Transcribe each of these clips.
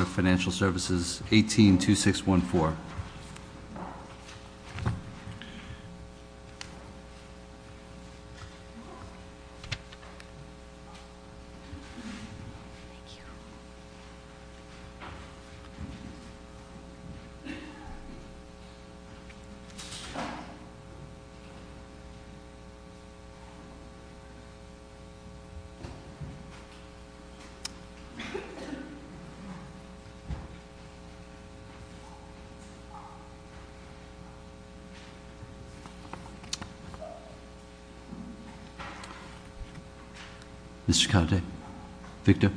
of Financial Services, 182614. Mr. Calde, Victor.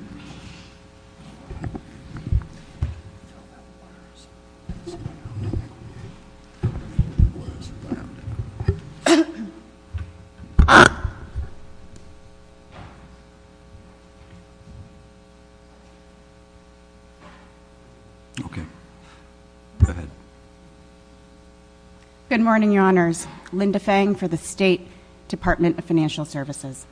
Good morning, Your Honors. Linda Fang for the State Department of Financial Services.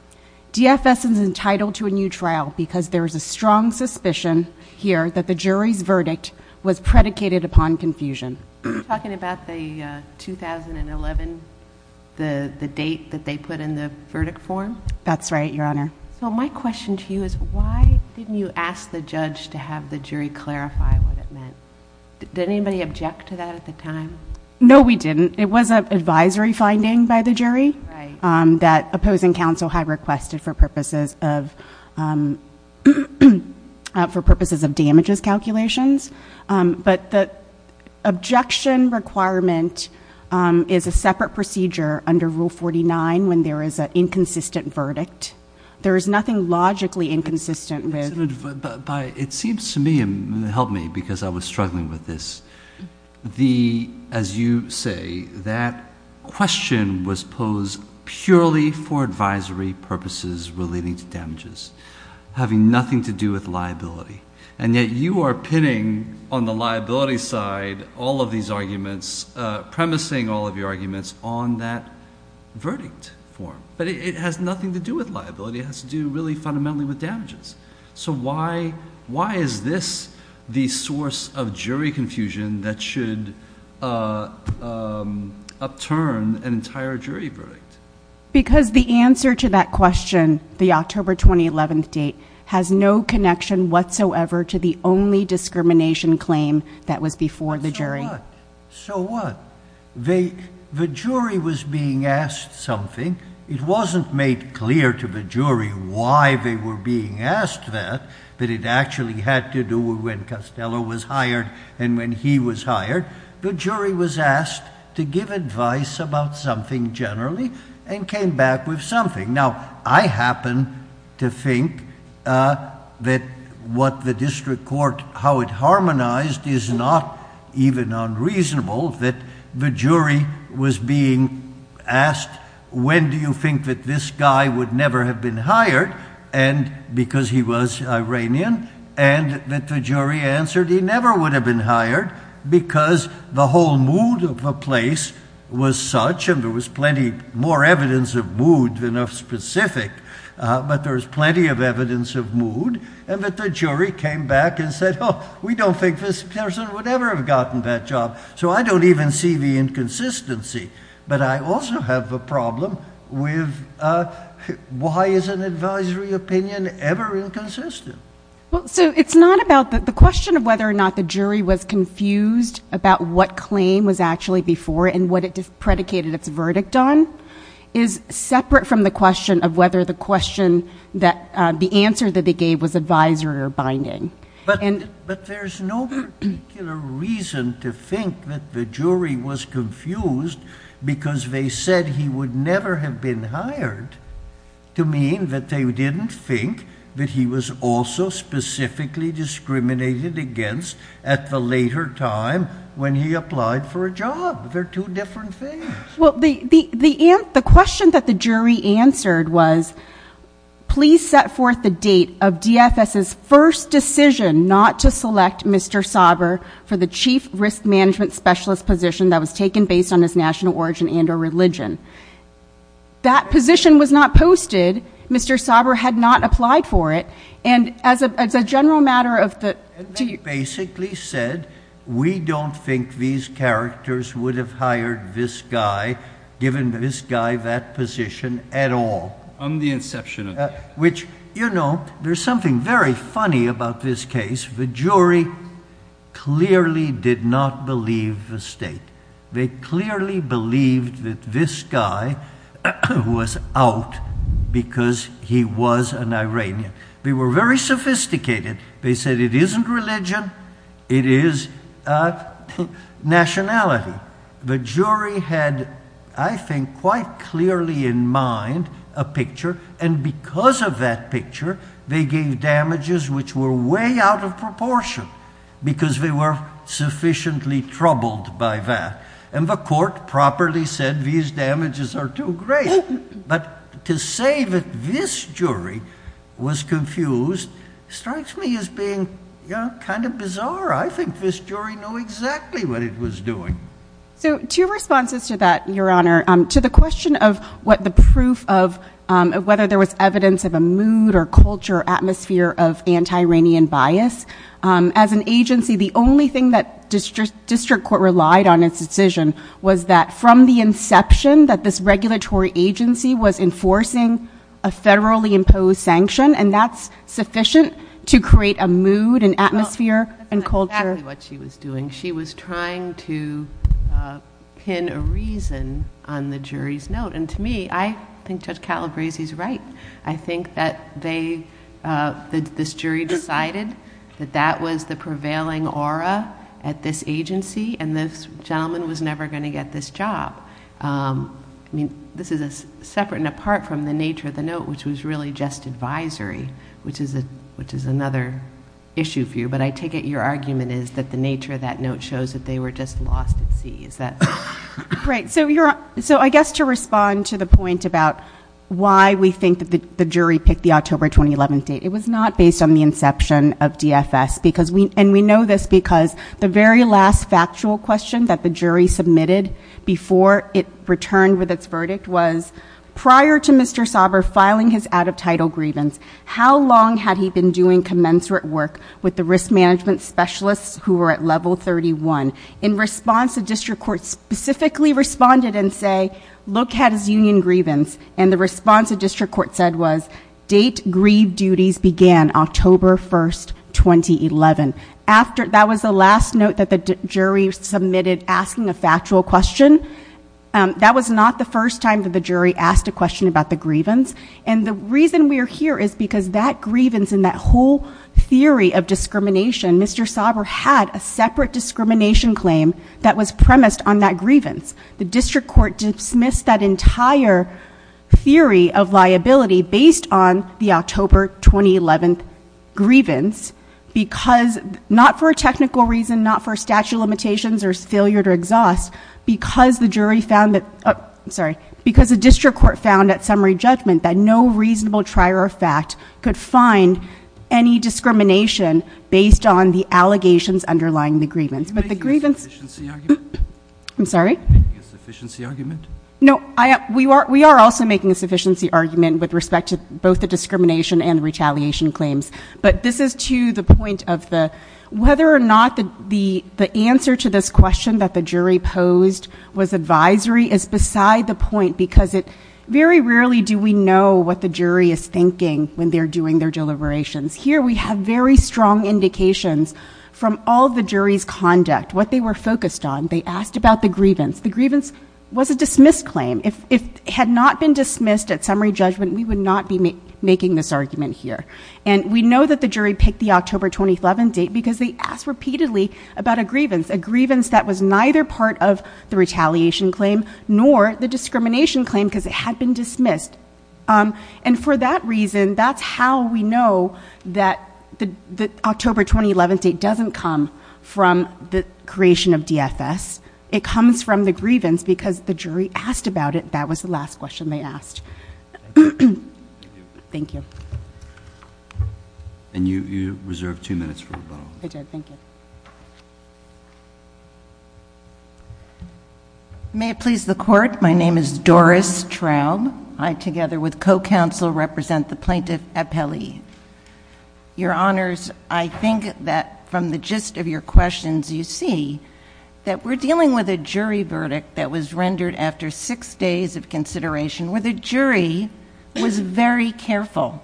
DFS is entitled to a new trial because there is a strong suspicion here that the jury's verdict was predicated upon confusion. Are you talking about the 2011, the date that they put in the verdict form? That's right, Your Honor. So my question to you is why didn't you ask the judge to have the jury clarify what it meant? Did anybody object to that at the time? No, we didn't. It was an advisory finding by the jury that opposing counsel had requested for purposes of damages calculations. But the objection requirement is a separate procedure under Rule 49 when there is an inconsistent verdict. There is nothing logically inconsistent with— It seems to me, and help me because I was struggling with this, as you say, that question was posed purely for advisory purposes relating to damages, having nothing to do with liability. And yet you are pinning on the liability side all of these arguments, premising all of your arguments on that verdict form. But it has nothing to do with liability. It has to do really fundamentally with damages. So why is this the source of jury confusion that should upturn an entire jury verdict? Because the answer to that question, the October 2011 date, has no connection whatsoever to the only discrimination claim that was before the jury. So what? So what? The jury was being asked something. It wasn't made clear to the jury why they were being asked that, but it actually had to do with when Costello was hired and when he was hired. The jury was asked to give advice about something generally and came back with something. Now, I happen to think that what the district court—how it harmonized is not even unreasonable that the jury was being asked, when do you think that this guy would never have been hired because he was Iranian, and that the jury answered he never would have been hired because the whole mood of the place was such, and there was plenty more evidence of mood than of specific, but there was plenty of evidence of mood, and that the jury came back and said, oh, we don't think this person would ever have gotten that job. So I don't even see the inconsistency, but I also have a problem with why is an advisory opinion ever inconsistent? Well, so it's not about—the question of whether or not the jury was confused about what claim was actually before it and what it predicated its verdict on is separate from the question of whether the question that—the answer that they gave was advisory or binding. But there's no particular reason to think that the jury was confused because they said he would never have been hired to mean that they didn't think that he was also specifically discriminated against at the later time when he applied for a job. They're two different things. Well, the question that the jury answered was, please set forth the date of DFS's first decision not to select Mr. Sauber for the chief risk management specialist position that was taken based on his national origin and or religion. That position was not posted. Mr. Sauber had not applied for it. And as a general matter of the— And they basically said, we don't think these characters would have hired this guy, given this guy that position, at all. On the inception of that. Which, you know, there's something very funny about this case. The jury clearly did not believe the state. They clearly believed that this guy was out because he was an Iranian. They were very sophisticated. They said it isn't religion, it is nationality. The jury had, I think, quite clearly in mind a picture. And because of that picture, they gave damages which were way out of proportion. Because they were sufficiently troubled by that. And the court properly said these damages are too great. But to say that this jury was confused strikes me as being, you know, kind of bizarre. I think this jury knew exactly what it was doing. So, two responses to that, Your Honor. To the question of what the proof of whether there was evidence of a mood or culture, atmosphere of anti-Iranian bias. As an agency, the only thing that district court relied on in its decision was that from the inception that this regulatory agency was enforcing a federally imposed sanction. And that's sufficient to create a mood and atmosphere and culture. That's exactly what she was doing. She was trying to pin a reason on the jury's note. And to me, I think Judge Calabresi is right. I think that this jury decided that that was the prevailing aura at this agency. And this gentleman was never going to get this job. I mean, this is separate and apart from the nature of the note, which was really just advisory, which is another issue for you. But I take it your argument is that the nature of that note shows that they were just lost at sea. Is that? Right, so I guess to respond to the point about why we think that the jury picked the October 2011 date. It was not based on the inception of DFS. And we know this because the very last factual question that the jury submitted before it returned with its verdict was prior to Mr. Sauber filing his out of title grievance, how long had he been doing commensurate work with the risk management specialists who were at level 31? In response, the district court specifically responded and say, look at his union grievance. And the response the district court said was, date grieve duties began October 1st, 2011. That was the last note that the jury submitted asking a factual question. That was not the first time that the jury asked a question about the grievance. And the reason we are here is because that grievance and that whole theory of discrimination, Mr. Sauber had a separate discrimination claim that was premised on that grievance. The district court dismissed that entire theory of liability based on the October 2011 grievance. Because, not for a technical reason, not for statute of limitations or failure to exhaust. Because the jury found that, I'm sorry, because the district court found at summary judgment that no reasonable trier of fact could find any discrimination based on the allegations underlying the grievance. But the grievance- Are you making a sufficiency argument? I'm sorry? Are you making a sufficiency argument? No, we are also making a sufficiency argument with respect to both the discrimination and retaliation claims. But this is to the point of the, whether or not the answer to this question that the jury posed was advisory is beside the point because it, very rarely do we know what the jury is thinking when they're doing their deliberations. Here we have very strong indications from all the jury's conduct, what they were focused on. They asked about the grievance. The grievance was a dismissed claim. If it had not been dismissed at summary judgment, we would not be making this argument here. And we know that the jury picked the October 2011 date because they asked repeatedly about a grievance. A grievance that was neither part of the retaliation claim nor the discrimination claim because it had been dismissed. And for that reason, that's how we know that the October 2011 date doesn't come from the creation of DFS. It comes from the grievance because the jury asked about it. That was the last question they asked. Thank you very much. Thank you. And you reserve two minutes for rebuttal. I did, thank you. May it please the court, my name is Doris Traub. I, together with co-counsel, represent the plaintiff at Pele. Your honors, I think that from the gist of your questions you see that we're dealing with a jury verdict that was rendered after six days of consideration where the jury was very careful.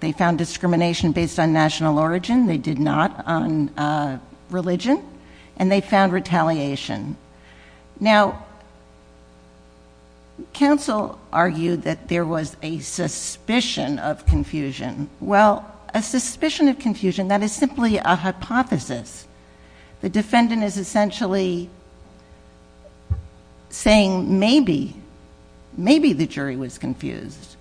They found discrimination based on national origin, they did not on religion, and they found retaliation. Now, counsel argued that there was a suspicion of confusion. Well, a suspicion of confusion, that is simply a hypothesis. The defendant is essentially saying maybe, maybe the jury was confused.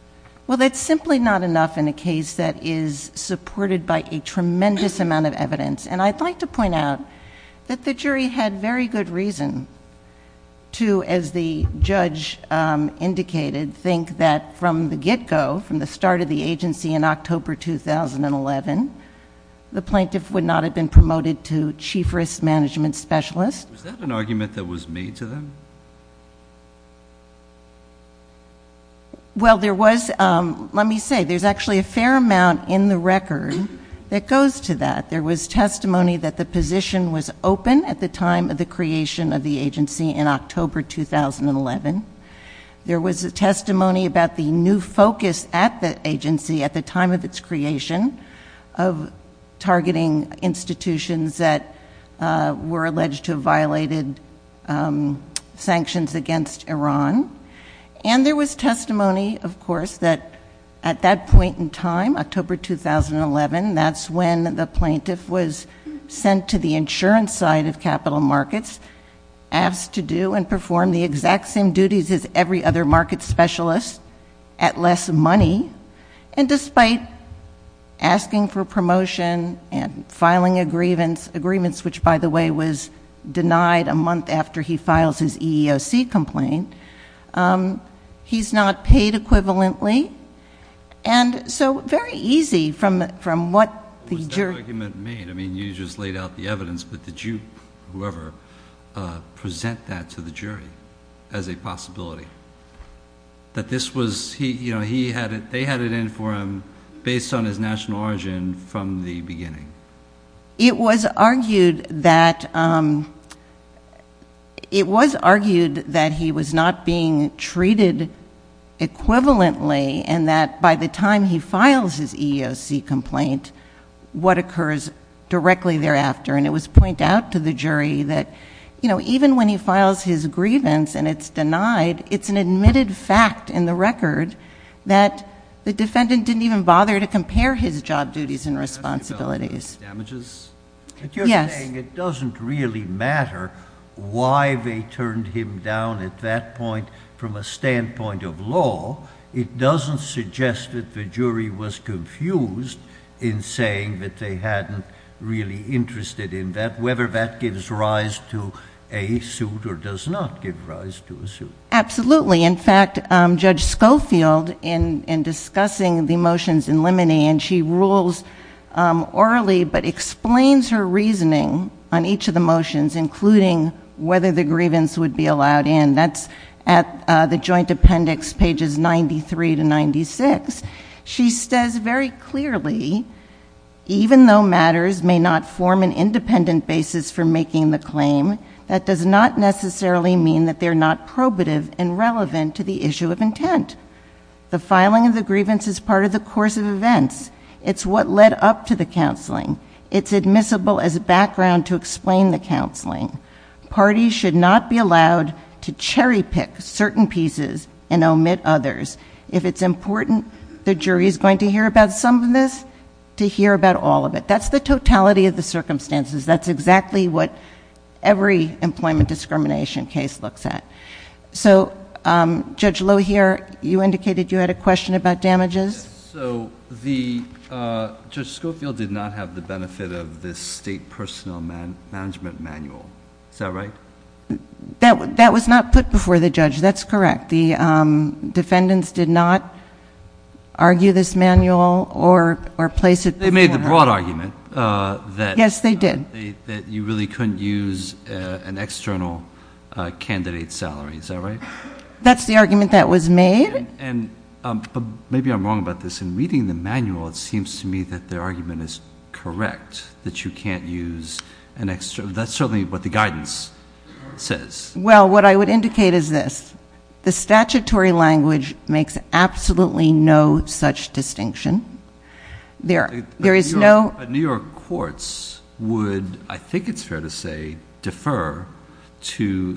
Well, that's simply not enough in a case that is supported by a tremendous amount of evidence. And I'd like to point out that the jury had very good reason to, as the judge indicated, think that from the get-go, from the start of the agency in October 2011, the plaintiff would not have been promoted to Chief Risk Management Specialist. Was that an argument that was made to them? Well, there was, let me say, there's actually a fair amount in the record that goes to that. There was testimony that the position was open at the time of the creation of the agency in October 2011. There was a testimony about the new focus at the agency at the time of its creation of targeting institutions that were alleged to have violated sanctions against Iran. And there was testimony, of course, that at that point in time, October 2011, that's when the plaintiff was sent to the insurance side of capital markets, asked to do and perform the exact same duties as every other market specialist at less money. And despite asking for promotion and filing agreements, which by the way was denied a month after he files his EEOC complaint, he's not paid equivalently, and so very easy from what the jury- What does that argument mean? I mean, you just laid out the evidence, but did you, whoever, present that to the jury as a possibility? That this was, you know, he had it, they had it in for him based on his national origin from the beginning? It was argued that, it was argued that he was not being treated equivalently and that by the time he files his EEOC complaint, what occurs directly thereafter. And it was pointed out to the jury that, you know, even when he files his grievance and it's denied, it's an admitted fact in the record that the defendant didn't even bother to compare his job duties and responsibilities. Damages? Yes. But you're saying it doesn't really matter why they turned him down at that point from a standpoint of law. It doesn't suggest that the jury was confused in saying that they hadn't really interested in that, whether that gives rise to a suit or does not give rise to a suit. Absolutely. In fact, Judge Schofield, in discussing the motions in limine, and she rules orally, but explains her reasoning on each of the motions, including whether the grievance would be allowed in. And that's at the joint appendix pages 93 to 96. She says very clearly, even though matters may not form an independent basis for making the claim, that does not necessarily mean that they're not probative and relevant to the issue of intent. The filing of the grievance is part of the course of events. It's what led up to the counseling. Parties should not be allowed to cherry pick certain pieces and omit others. If it's important, the jury's going to hear about some of this, to hear about all of it. That's the totality of the circumstances. That's exactly what every employment discrimination case looks at. So, Judge Lohier, you indicated you had a question about damages. So, Judge Schofield did not have the benefit of this state personnel management manual. Is that right? That was not put before the judge. That's correct. The defendants did not argue this manual or place it before- They made the broad argument that- Yes, they did. That you really couldn't use an external candidate's salary. Is that right? That's the argument that was made. But maybe I'm wrong about this. In reading the manual, it seems to me that their argument is correct, that you can't use an extra. That's certainly what the guidance says. Well, what I would indicate is this. The statutory language makes absolutely no such distinction. There is no- New York courts would, I think it's fair to say, defer to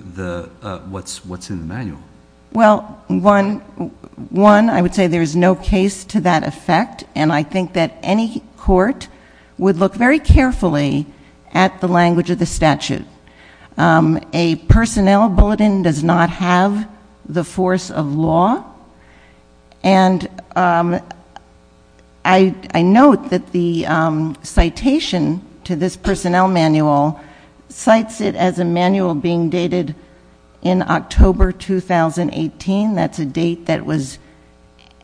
what's in the manual. Well, one, I would say there is no case to that effect. And I think that any court would look very carefully at the language of the statute. A personnel bulletin does not have the force of law. And I note that the citation to this personnel manual cites it as a manual being dated in October 2018. That's a date that was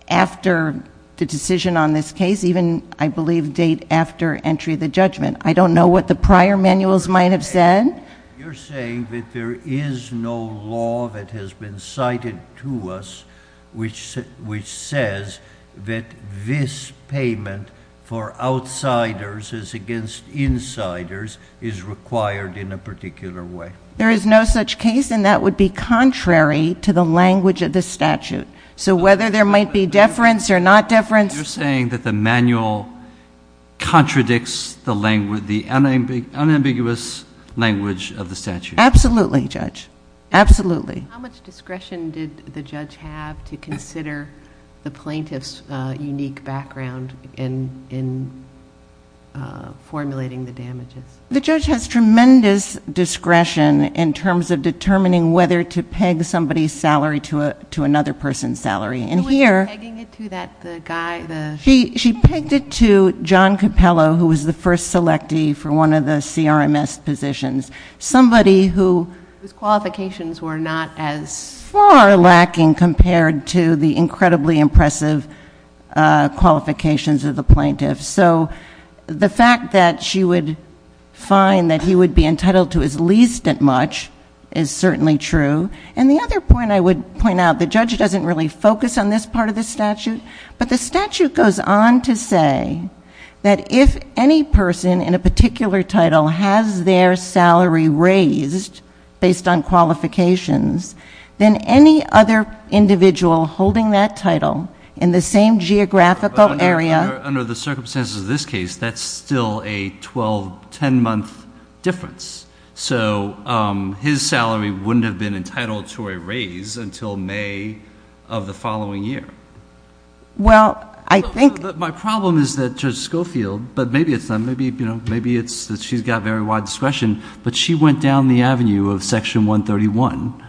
after the decision on this case, even, I believe, date after entry of the judgment. I don't know what the prior manuals might have said. You're saying that there is no law that has been cited to us which says that this payment for outsiders as against insiders is required in a particular way. There is no such case, and that would be contrary to the language of the statute. So whether there might be deference or not deference- You're saying that the manual contradicts the unambiguous language of the statute. Absolutely, Judge. Absolutely. How much discretion did the judge have to consider the plaintiff's unique background in formulating the damages? The judge has tremendous discretion in terms of determining whether to peg somebody's salary to another person's salary. And here- Who was she pegging it to, the guy, the- She pegged it to John Capello, who was the first selectee for one of the CRMS positions. Somebody who- Whose qualifications were not as- Far lacking compared to the incredibly impressive qualifications of the plaintiff. So the fact that she would find that he would be entitled to as least at much is certainly true. And the other point I would point out, the judge doesn't really focus on this part of the statute. But the statute goes on to say that if any person in a particular title has their salary raised based on qualifications, then any other individual holding that title in the same geographical area- And as is this case, that's still a 12, 10-month difference. So his salary wouldn't have been entitled to a raise until May of the following year. Well, I think- My problem is that Judge Schofield, but maybe it's not, maybe it's that she's got very wide discretion. But she went down the avenue of section 131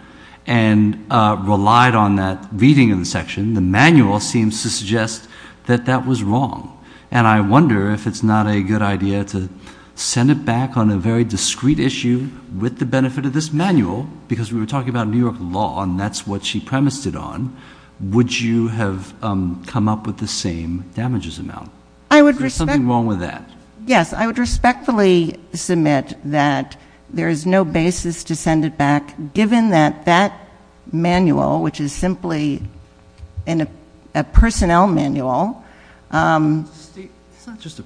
and relied on that reading in the section. The manual seems to suggest that that was wrong. And I wonder if it's not a good idea to send it back on a very discreet issue with the benefit of this manual. Because we were talking about New York law, and that's what she premised it on. Would you have come up with the same damages amount? There's something wrong with that. Yes, I would respectfully submit that there is no basis to send it back, given that that manual, which is simply a personnel manual, it's not just a,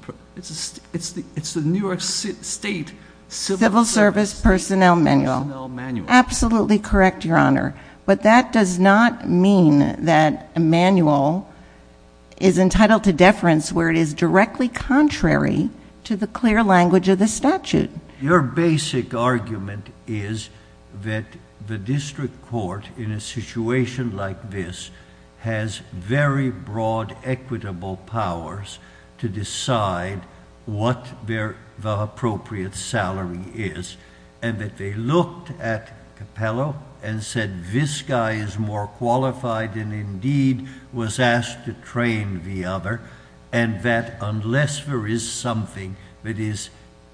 it's the New York State- Civil Service Personnel Manual. Absolutely correct, Your Honor. But that does not mean that a manual is entitled to deference, where it is directly contrary to the clear language of the statute. Your basic argument is that the district court, in a situation like this, has very broad equitable powers to decide what the appropriate salary is. And that they looked at Capello and said, this guy is more qualified than indeed was asked to train the other, and that unless there is something that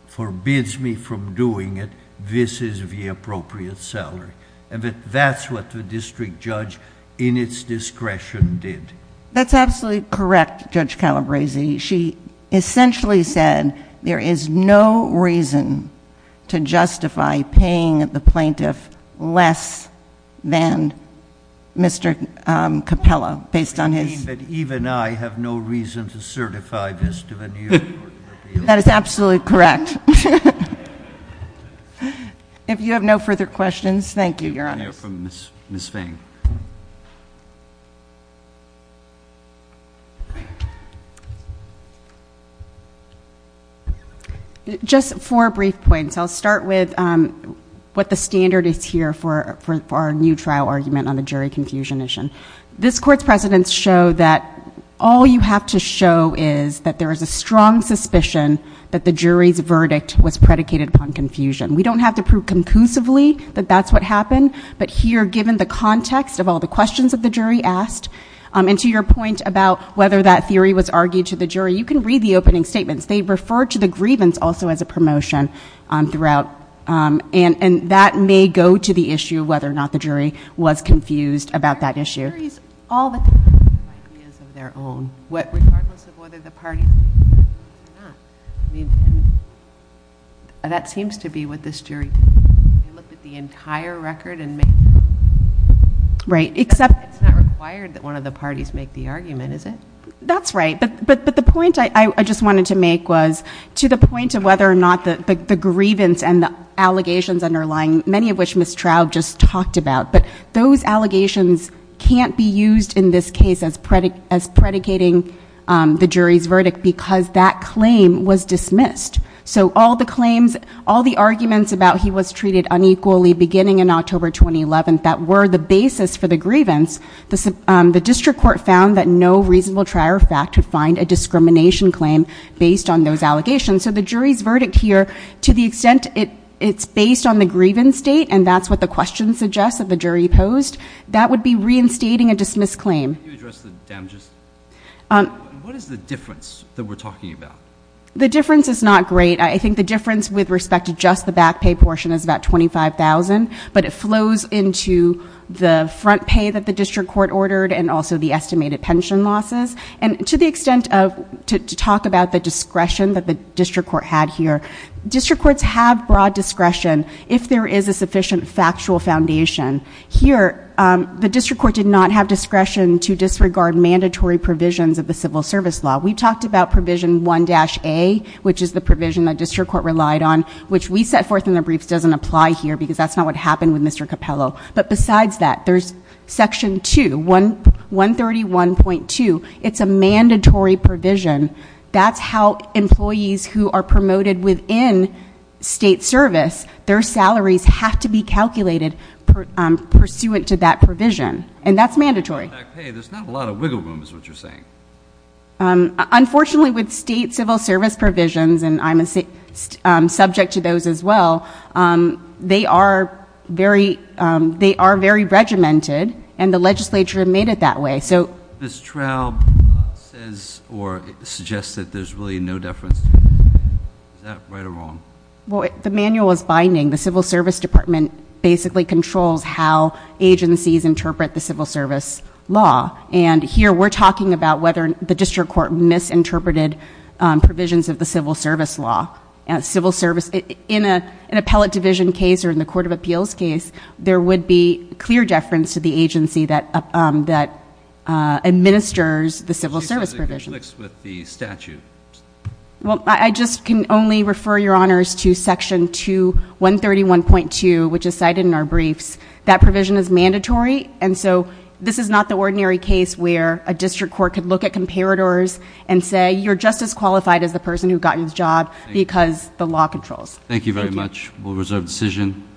forbids me from doing it, this is the appropriate salary. And that that's what the district judge, in its discretion, did. That's absolutely correct, Judge Calabresi. She essentially said, there is no reason to justify paying the plaintiff less than Mr. Capello, based on his- But even I have no reason to certify this to the New York court. That is absolutely correct. If you have no further questions, thank you, Your Honor. We have Ms. Fang. Just four brief points. I'll start with what the standard is here for our new trial argument on the jury confusion issue. This court's precedents show that all you have to show is that there is a strong suspicion that the jury's verdict was predicated upon confusion. We don't have to prove conclusively that that's what happened. But here, given the context of all the questions that the jury asked, and to your point about whether that theory was argued to the jury, you can read the opening statements. They refer to the grievance also as a promotion throughout. And that may go to the issue of whether or not the jury was confused about that issue. The jury's all that they have are ideas of their own, regardless of whether the party's convinced or not. I mean, that seems to be what this jury did. They looked at the entire record and made- Right, except- It's not required that one of the parties make the argument, is it? That's right, but the point I just wanted to make was, to the point of whether or not the grievance and the allegations underlying, many of which Ms. Traub just talked about. But those allegations can't be used in this case as predicating the jury's verdict because that claim was dismissed. So all the claims, all the arguments about he was treated unequally beginning in October 2011 that were the basis for the grievance. The district court found that no reasonable trier of fact could find a discrimination claim based on those allegations. So the jury's verdict here, to the extent it's based on the grievance state, and that's what the question suggests that the jury posed, that would be reinstating a dismissed claim. Can you address the damages? What is the difference that we're talking about? The difference is not great. I think the difference with respect to just the back pay portion is about $25,000, but it flows into the front pay that the district court ordered and also the estimated pension losses. And to the extent of, to talk about the discretion that the district court had here. District courts have broad discretion if there is a sufficient factual foundation. Here, the district court did not have discretion to disregard mandatory provisions of the civil service law. We talked about provision 1-A, which is the provision that district court relied on, which we set forth in the briefs doesn't apply here because that's not what happened with Mr. Capello. But besides that, there's section 2, 131.2, it's a mandatory provision. That's how employees who are promoted within state service, their salaries have to be calculated pursuant to that provision, and that's mandatory. Back pay, there's not a lot of wiggle room is what you're saying. Unfortunately, with state civil service provisions, and I'm a subject to those as well, they are very regimented, and the legislature made it that way. Ms. Traub says or suggests that there's really no deference, is that right or wrong? The manual is binding. The civil service department basically controls how agencies interpret the civil service law. And here, we're talking about whether the district court misinterpreted provisions of the civil service law. In an appellate division case or in the court of appeals case, there would be clear deference to the agency that administers the civil service provision. With the statute. Well, I just can only refer your honors to section 2, 131.2, which is cited in our briefs. That provision is mandatory, and so this is not the ordinary case where a district court could look at comparators and say you're just as qualified as the person who got you the job because the law controls. Thank you very much. We'll reserve decision.